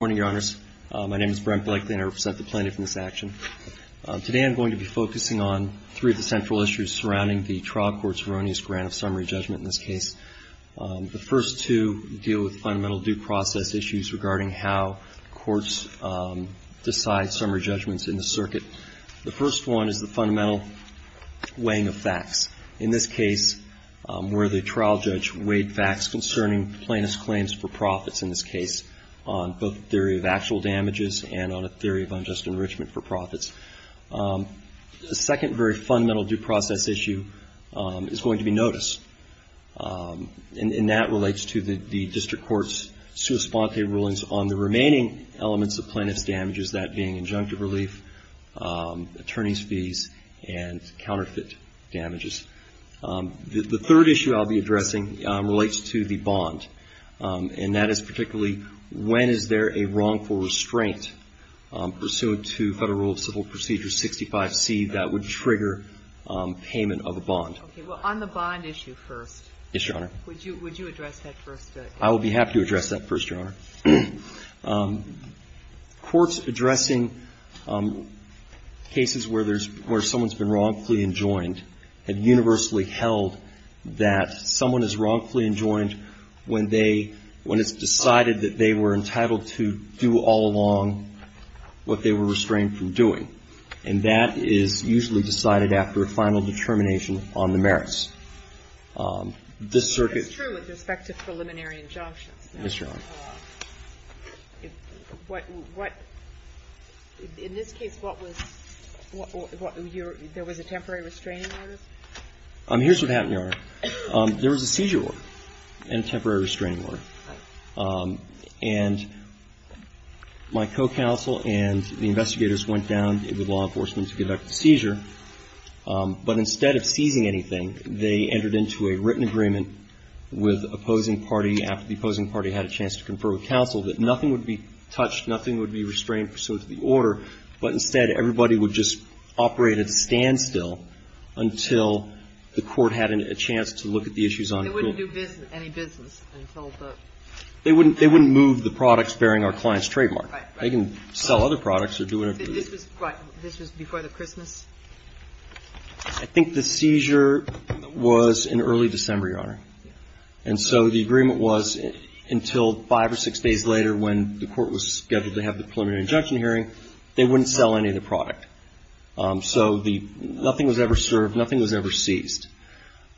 Good morning, Your Honors. My name is Brent Blakely and I represent the plaintiff in this action. Today I'm going to be focusing on three of the central issues surrounding the trial court's erroneous grant of summary judgment in this case. The first two deal with fundamental due process issues regarding how courts decide summary judgments in the circuit. The first one is the fundamental weighing of facts. In this case, where the trial judge weighed facts concerning plaintiff's claims for profits, in this case, on both a theory of actual damages and on a theory of unjust enrichment for profits. The second very fundamental due process issue is going to be notice. And that relates to the district court's sua sponte rulings on the remaining elements of plaintiff's damages, that being injunctive relief, attorney's fees, and counterfeit damages. The third issue I'll be addressing relates to the bond. And that is particularly when is there a wrongful restraint pursuant to Federal Rule of Civil Procedure 65C that would trigger payment of a bond. Okay. Well, on the bond issue first. Yes, Your Honor. Would you address that first? I will be happy to address that first, Your Honor. Courts addressing cases where there's – where someone's been wrongfully enjoined have universally held that someone is wrongfully enjoined when they – when it's decided that they were entitled to do all along what they were restrained from doing. And that is usually decided after a final determination on the merits. This circuit – It's true with respect to preliminary injunctions. Yes, Your Honor. What – what – in this case, what was – there was a temporary restraining order? Here's what happened, Your Honor. There was a seizure order and a temporary restraining order. And my co-counsel and the investigators went down with law enforcement to conduct the seizure. But instead of seizing anything, they entered into a written agreement with opposing party after the opposing party had a chance to confer with counsel that nothing would be touched, nothing would be restrained pursuant to the order, but instead everybody would just operate at standstill until the court had a chance to look at the issues on the court. They wouldn't do business – any business until the – They wouldn't – they wouldn't move the products bearing our client's trademark. Right, right. They can sell other products or do whatever they want. I think the seizure was in early December, Your Honor. And so the agreement was until five or six days later when the court was scheduled to have the preliminary injunction hearing, they wouldn't sell any of the product. So the – nothing was ever served, nothing was ever seized.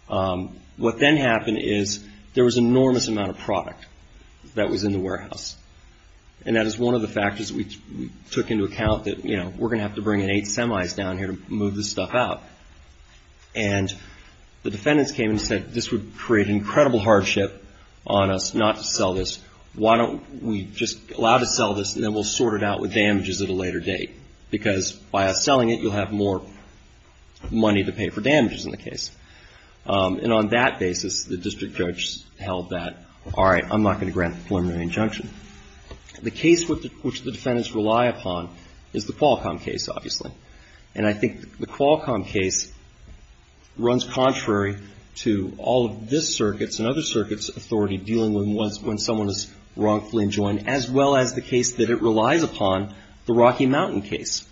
What then happened is there was an enormous amount of product that was in the warehouse. And that is one of the factors we took into account that, you know, we're going to have to bring in eight semis down here to move this stuff out. And the defendants came and said, this would create incredible hardship on us not to sell this. Why don't we just allow to sell this and then we'll sort it out with damages at a later date? Because by us selling it, you'll have more money to pay for damages in the case. And on that basis, the district judge held that, all right, I'm not going to grant the preliminary injunction. The case which the defendants rely upon is the Qualcomm case, obviously. And I think the Qualcomm case runs contrary to all of this circuit's and other circuits' authority dealing with when someone is wrongfully enjoined, as well as the case that it relies upon, the Rocky Mountain case.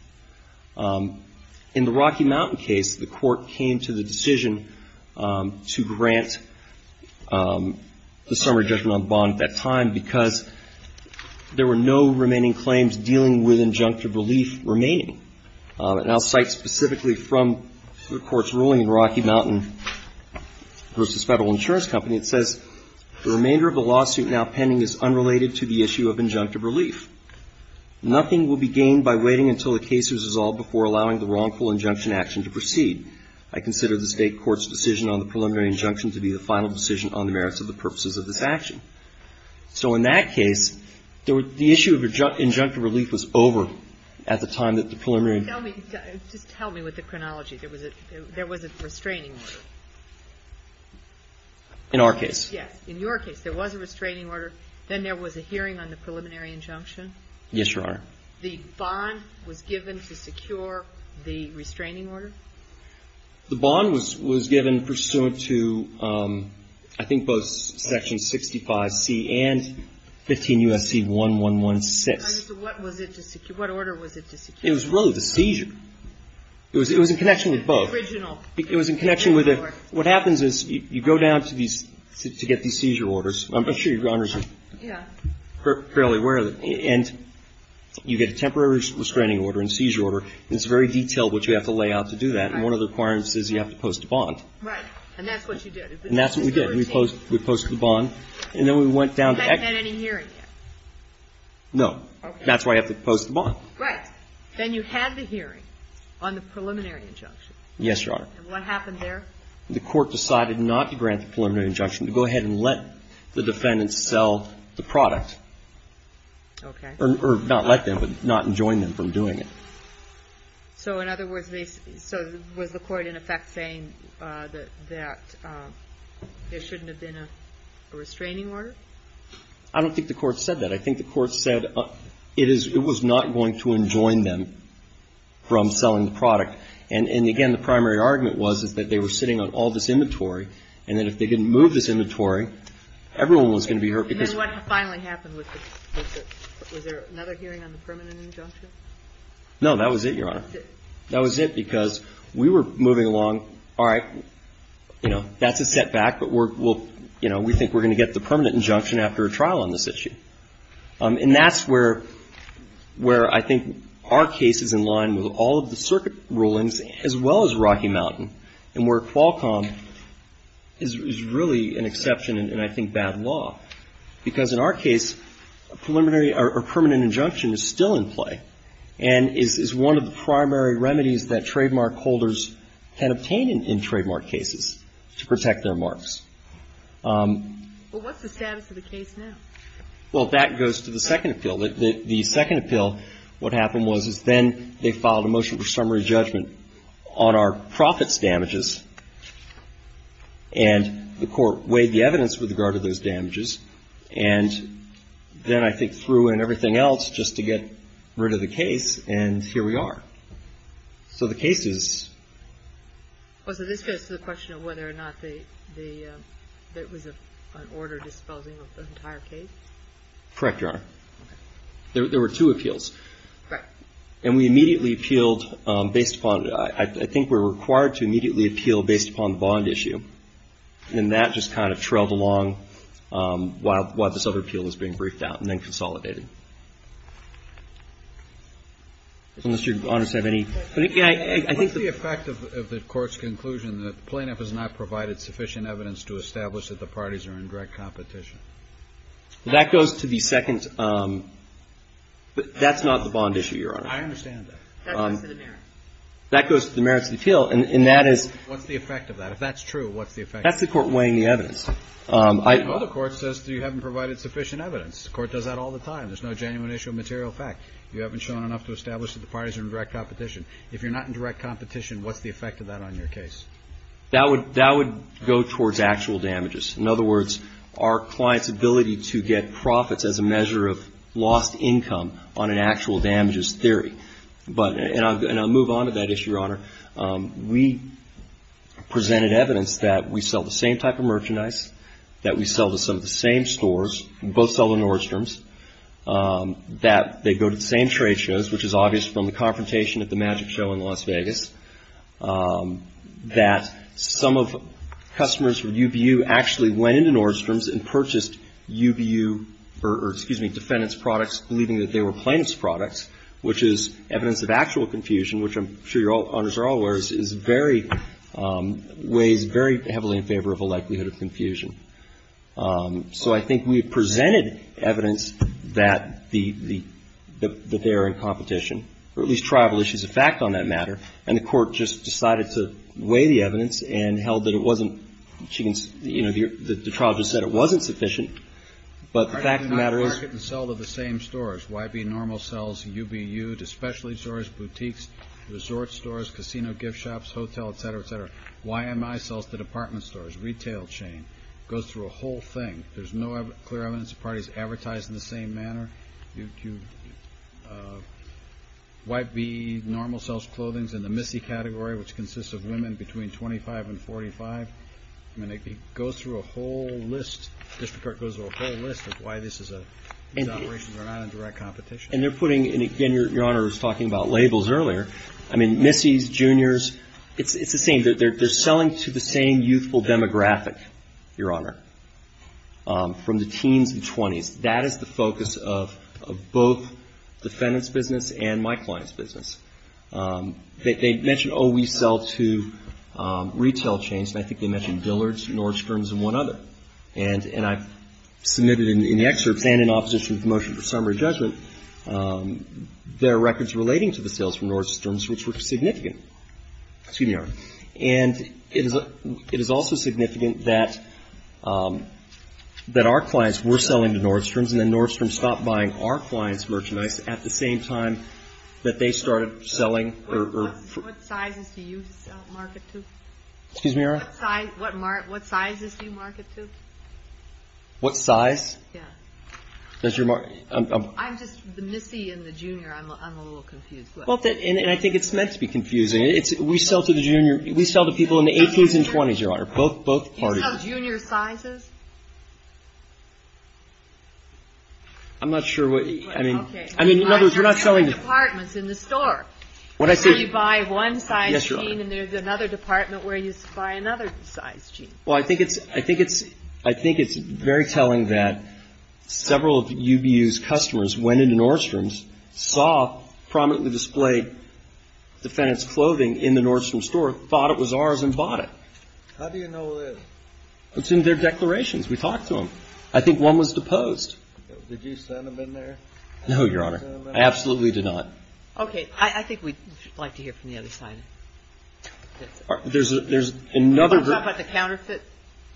In the Rocky Mountain case, the court came to the decision to grant the summary judgment on bond at that time because there were no remaining claims dealing with injunctive relief remaining. And I'll cite specifically from the Court's ruling in Rocky Mountain v. Federal Insurance Company. It says, The remainder of the lawsuit now pending is unrelated to the issue of injunctive relief. Nothing will be gained by waiting until the case is resolved before allowing the wrongful injunction action to proceed. I consider the State court's decision on the preliminary injunction to be the final decision on the merits of the purposes of this action. So in that case, the issue of injunctive relief was over at the time that the preliminary Tell me, just help me with the chronology. There was a restraining order. In our case. Yes. In your case, there was a restraining order. Then there was a hearing on the preliminary injunction. Yes, Your Honor. The bond was given to secure the restraining order? The bond was given pursuant to, I think, both Section 65C and 15 U.S.C. 1116. I mean, so what was it to secure? What order was it to secure? It was really the seizure. It was in connection with both. The original. It was in connection with it. What happens is you go down to these, to get these seizure orders. I'm sure Your Honor is fairly aware of it. And you get a temporary restraining order and seizure order. And it's very detailed what you have to lay out to do that. And one of the requirements is you have to post a bond. Right. And that's what you did. And that's what we did. We posted the bond. And then we went down to actually. You hadn't had any hearing yet. No. Okay. That's why you have to post the bond. Right. Then you had the hearing on the preliminary injunction. Yes, Your Honor. And what happened there? The court decided not to grant the preliminary injunction, to go ahead and let the defendant sell the product. Okay. Or not let them, but not enjoin them from doing it. So in other words, so was the court in effect saying that there shouldn't have been a restraining order? I don't think the court said that. I think the court said it was not going to enjoin them from selling the product. And, again, the primary argument was that they were sitting on all this inventory, and that if they didn't move this inventory, everyone was going to be hurt. And then what finally happened with the, was there another hearing on the permanent injunction? No. That was it, Your Honor. That was it, because we were moving along, all right, you know, that's a setback, but we'll, you know, we think we're going to get the permanent injunction after a trial on this issue. And that's where I think our case is in line with all of the circuit rulings, as well as Rocky Mountain, and where Qualcomm is really an exception, and I think bad law. Because in our case, a preliminary or permanent injunction is still in play, and is one of the primary remedies that trademark holders can obtain in trademark cases to protect their marks. Well, what's the status of the case now? Well, that goes to the second appeal. The second appeal, what happened was, is then they filed a motion for summary judgment on our profits damages, and the Court weighed the evidence with regard to those damages, and then I think threw in everything else just to get rid of the case, and here we are. So the case is? Well, so this goes to the question of whether or not the, it was an order disposing of the entire case? Correct, Your Honor. Okay. There were two appeals. Right. And we immediately appealed based upon, I think we're required to immediately appeal based upon the bond issue, and that just kind of trailed along while this other appeal was being briefed out and then consolidated. Unless Your Honors have any? What's the effect of the Court's conclusion that the plaintiff has not provided sufficient evidence to establish that the parties are in direct competition? That goes to the second, that's not the bond issue, Your Honor. I understand that. That goes to the merits. That goes to the merits of the appeal, and that is? What's the effect of that? If that's true, what's the effect? That's the Court weighing the evidence. The other Court says you haven't provided sufficient evidence. The Court does that all the time. There's no genuine issue of material fact. You haven't shown enough to establish that the parties are in direct competition. If you're not in direct competition, what's the effect of that on your case? That would go towards actual damages. In other words, our client's ability to get profits as a measure of lost income on an actual damages theory. And I'll move on to that issue, Your Honor. We presented evidence that we sell the same type of merchandise, that we sell to some of the same stores. We both sell to Nordstrom's. That they go to the same trade shows, which is obvious from the confrontation at the Magic Show in Las Vegas. That some of customers from UBU actually went into Nordstrom's and purchased UBU or, excuse me, defendant's products, believing that they were plaintiff's products, which is evidence of actual confusion, which I'm sure Your Honors are all aware is very, weighs very heavily in favor of a likelihood of confusion. So I think we presented evidence that the, that they are in competition, or at least tribal issues of fact on that matter. And the Court just decided to weigh the evidence and held that it wasn't, you know, the trial just said it wasn't sufficient. But the fact of the matter is. I did not market and sell to the same stores. Why be normal sales to UBU, to specialty stores, boutiques, resort stores, casino gift shops, hotel, et cetera, et cetera. Why am I selling to department stores, retail chain? It goes through a whole thing. There's no clear evidence the parties advertise in the same manner. You wipe the normal sales clothings in the MISI category, which consists of women between 25 and 45. I mean, it goes through a whole list. District Court goes through a whole list of why this is a, these operations are not in direct competition. And they're putting, and again, Your Honor was talking about labels earlier. I mean, MISIs, juniors, it's the same. They're selling to the same youthful demographic, Your Honor, from the teens and 20s. That is the focus of both defendant's business and my client's business. They mention, oh, we sell to retail chains. And I think they mentioned Dillard's, Nordstrom's, and one other. And I submitted in the excerpts and in opposition to the motion for summary judgment their records relating to the sales from Nordstrom's, which were significant. Excuse me, Your Honor. And it is also significant that our clients were selling to Nordstrom's, and then Nordstrom's stopped buying our clients' merchandise at the same time that they started selling. What sizes do you market to? Excuse me, Your Honor. What sizes do you market to? What size? Yeah. I'm just, the MISI and the junior, I'm a little confused. And I think it's meant to be confusing. It's, we sell to the junior, we sell to people in the 18s and 20s, Your Honor, both parties. Do you sell junior sizes? I'm not sure what, I mean. Well, okay. I mean, in other words, we're not selling. I mean, there's different departments in the store. When I say. You buy one size chain. Yes, Your Honor. And there's another department where you buy another size chain. Well, I think it's, I think it's, I think it's very telling that several of UBU's customers went into Nordstrom's, saw prominently displayed defendant's clothing in the Nordstrom store, thought it was ours and bought it. How do you know it is? It's in their declarations. We talked to them. I think one was deposed. Did you send them in there? No, Your Honor. I absolutely did not. Okay. I think we'd like to hear from the other side. There's another. What about the counterfeiters?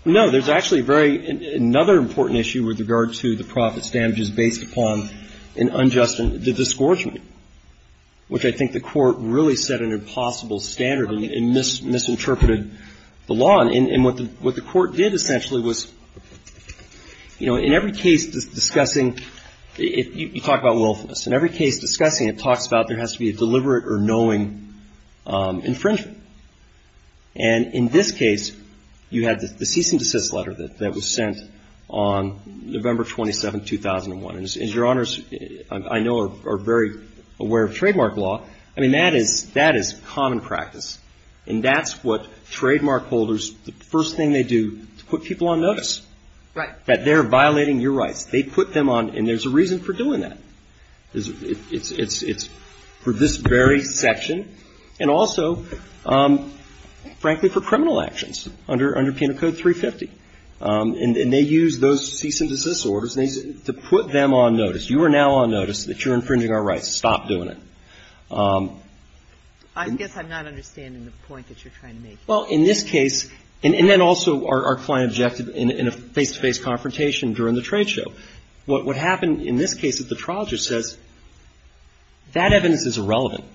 No, there's actually a very, another important issue with regard to the profits damages based upon an unjust, the disgorgement, which I think the court really set an impossible standard and misinterpreted the law. And what the court did essentially was, you know, in every case discussing, you talk about wealthiness. In every case discussing, it talks about there has to be a deliberate or knowing infringement. And in this case, you had the cease and desist letter that was sent on November 27th, 2001. And Your Honors, I know, are very aware of trademark law. I mean, that is common practice. And that's what trademark holders, the first thing they do is put people on notice. Right. That they're violating your rights. They put them on, and there's a reason for doing that. It's for this very section, and also, frankly, for criminal actions under Penal Code 350. And they use those cease and desist orders to put them on notice. You are now on notice that you're infringing our rights. Stop doing it. I guess I'm not understanding the point that you're trying to make. Well, in this case, and then also our client objected in a face-to-face confrontation during the trade show. What happened in this case is the trial judge says that evidence is irrelevant,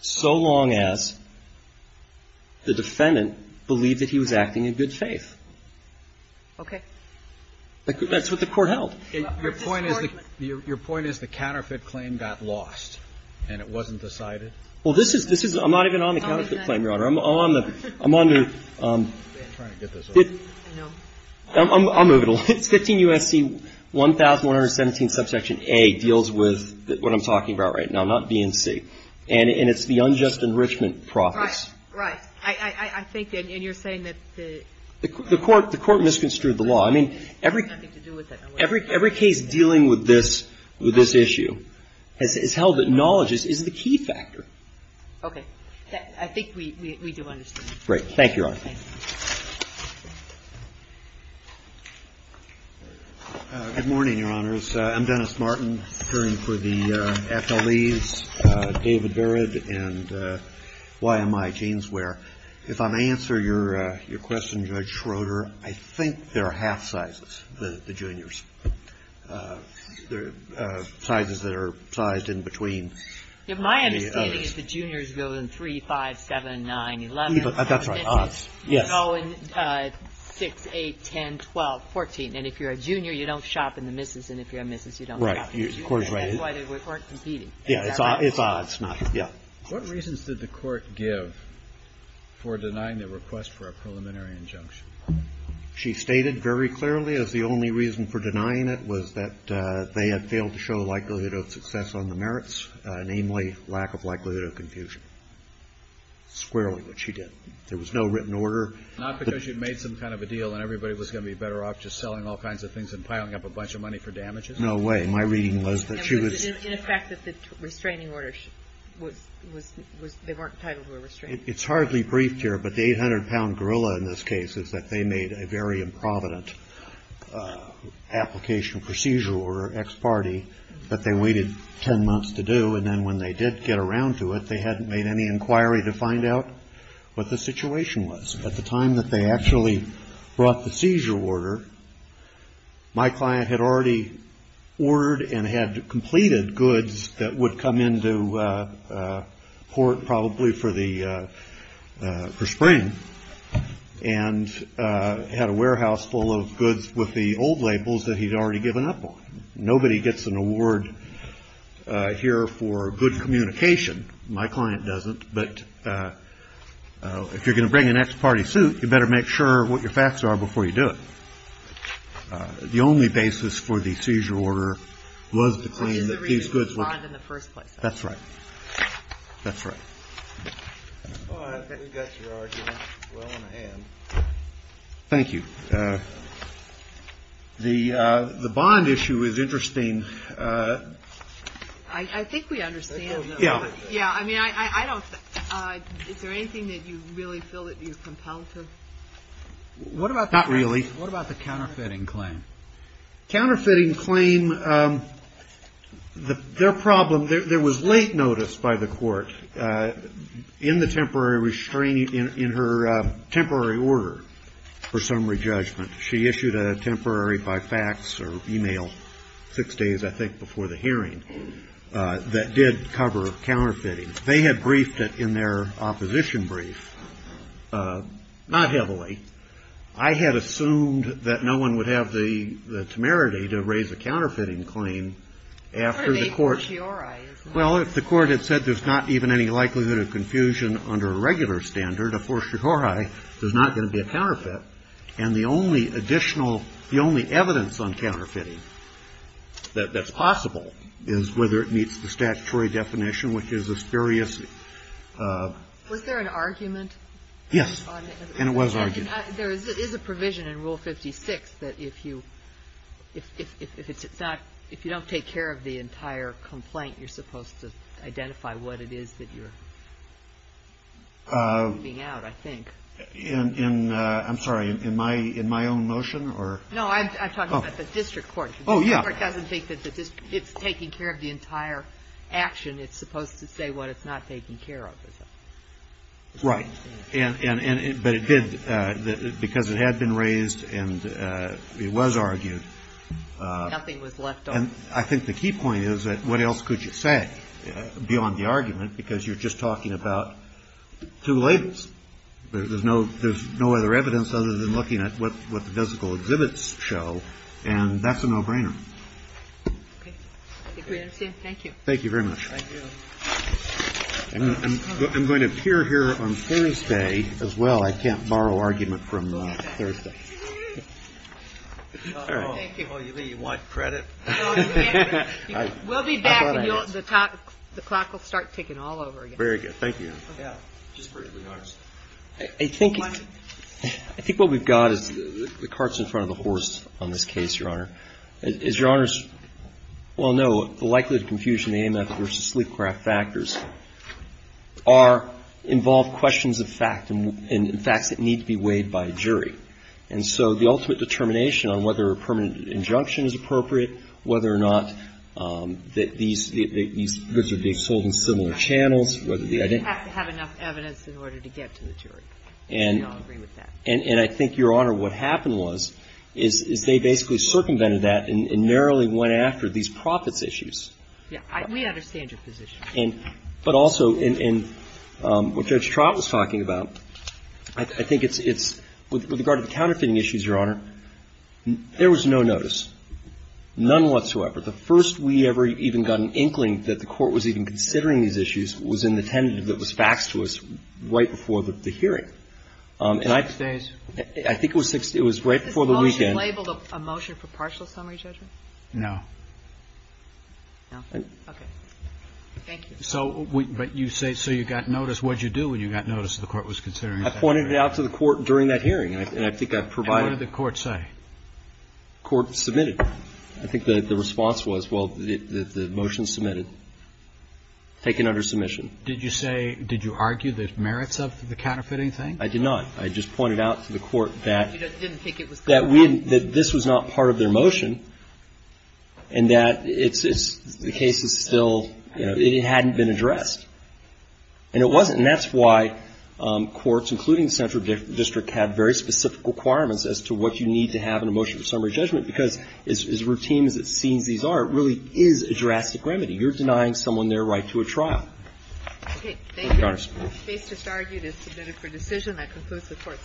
so long as the defendant believed that he was acting in good faith. Okay. That's what the Court held. Your point is the counterfeit claim got lost, and it wasn't decided? Well, this is – I'm not even on the counterfeit claim, Your Honor. I'm on the – I'm on the – I'm trying to get this off. I know. I'll move it along. 15 U.S.C. 1117 subsection A deals with what I'm talking about right now, not B and C. And it's the unjust enrichment process. Right. Right. I think – and you're saying that the – The Court misconstrued the law. I mean, every case dealing with this issue has held that knowledge is the key factor. I think we do understand. Great. Thank you, Your Honor. Good morning, Your Honors. I'm Dennis Martin, appearing for the FLEs, David Barrett, and why am I, James Ware. If I may answer your question, Judge Schroeder, I think there are half sizes, the juniors. There are sizes that are sized in between. My understanding is the juniors go in 3, 5, 7, 9, 11. That's right. Odds. Yes. Go in 6, 8, 10, 12, 14. And if you're a junior, you don't shop in the Mrs. And if you're a Mrs., you don't shop in the Mrs. That's why they weren't competing. Yeah, it's odds. Yeah. What reasons did the Court give for denying the request for a preliminary injunction? She stated very clearly as the only reason for denying it was that they had failed to show the likelihood of success on the merits, namely lack of likelihood of confusion. Squarely what she did. There was no written order. Not because you'd made some kind of a deal and everybody was going to be better off just selling all kinds of things and piling up a bunch of money for damages? No way. My reading was that she was In effect that the restraining order, they weren't entitled to a restraining order. It's hardly briefed here, but the 800-pound gorilla in this case is that they made a very improvident application procedure or ex parte that they waited 10 months to do. And then when they did get around to it, they hadn't made any inquiry to find out what the situation was. At the time that they actually brought the seizure order, my client had already ordered and had completed goods that would come into port probably for spring and had a warehouse full of goods with the old labels that he'd already given up on. Nobody gets an award here for good communication. My client doesn't. But if you're going to bring an ex parte suit, you better make sure what your facts are before you do it. The only basis for the seizure order was to claim that these goods were It's just the reason they were not in the first place. That's right. That's right. Well, I think we got your argument well in a hand. Thank you. The bond issue is interesting. I think we understand. Yeah. I mean, I don't. Is there anything that you really feel that you're compelled to? Not really. What about the counterfeiting claim? Counterfeiting claim, their problem, there was late notice by the court in the temporary restraining, in her temporary order for summary judgment. She issued a temporary by fax or email six days, I think, before the hearing that did cover counterfeiting. They had briefed it in their opposition brief. Not heavily. I had assumed that no one would have the temerity to raise a counterfeiting claim. After the court. Well, if the court had said there's not even any likelihood of confusion under a regular standard, of course, you're right. There's not going to be a counterfeit. And the only additional the only evidence on counterfeiting that that's possible is whether it meets the statutory definition, which is a serious. Was there an argument? Yes. And it was argued. There is a provision in Rule 56 that if you if it's not if you don't take care of the entire complaint, you're supposed to identify what it is that you're. Moving out, I think. In I'm sorry. In my in my own motion or. No, I'm talking about the district court. Oh, yeah. It's taking care of the entire action. It's supposed to say what it's not taking care of. Right. And but it did because it had been raised and it was argued. Nothing was left. And I think the key point is that what else could you say beyond the argument? Because you're just talking about two labels. There's no there's no other evidence other than looking at what what the physical exhibits show. And that's a no brainer. Thank you. Thank you very much. I'm going to appear here on Thursday as well. I can't borrow argument from Thursday. Thank you. You want credit. We'll be back. The clock will start ticking all over again. Very good. Thank you. I think I think what we've got is the carts in front of the horse on this case, Your Honor. Is your honors. Well, no. Likely to confusion. A method versus sleep craft factors are involved questions of fact and facts that need to be weighed by a jury. And so the ultimate determination on whether a permanent injunction is appropriate, whether or not that these are sold in similar channels, whether the identity. You have to have enough evidence in order to get to the jury. And I think, Your Honor, what happened was is they basically circumvented that and narrowly went after these profits issues. We understand your position. And but also in what Judge Trott was talking about, I think it's with regard to the counterfeiting issues, Your Honor. There was no notice, none whatsoever. The first we ever even got an inkling that the court was even considering these issues was in the tentative that was faxed to us right before the hearing. Six days. I think it was right before the weekend. Was this motion labeled a motion for partial summary judgment? No. No. Okay. Thank you. So you say you got notice. What did you do when you got notice that the court was considering? I pointed it out to the court during that hearing. And I think I provided. What did the court say? Court submitted. I think the response was, well, the motion is submitted. Taken under submission. Did you say, did you argue the merits of the counterfeiting thing? I did not. I just pointed out to the court that this was not part of their motion and that the case is still, it hadn't been addressed. And it wasn't. And that's why courts, including central district, had very specific requirements as to what you need to have in a motion for summary judgment, because as routine as it seems these are, it really is a drastic remedy. You're denying someone their right to a trial. Thank you, Your Honor. The case just argued is submitted for decision. That concludes the Court's session.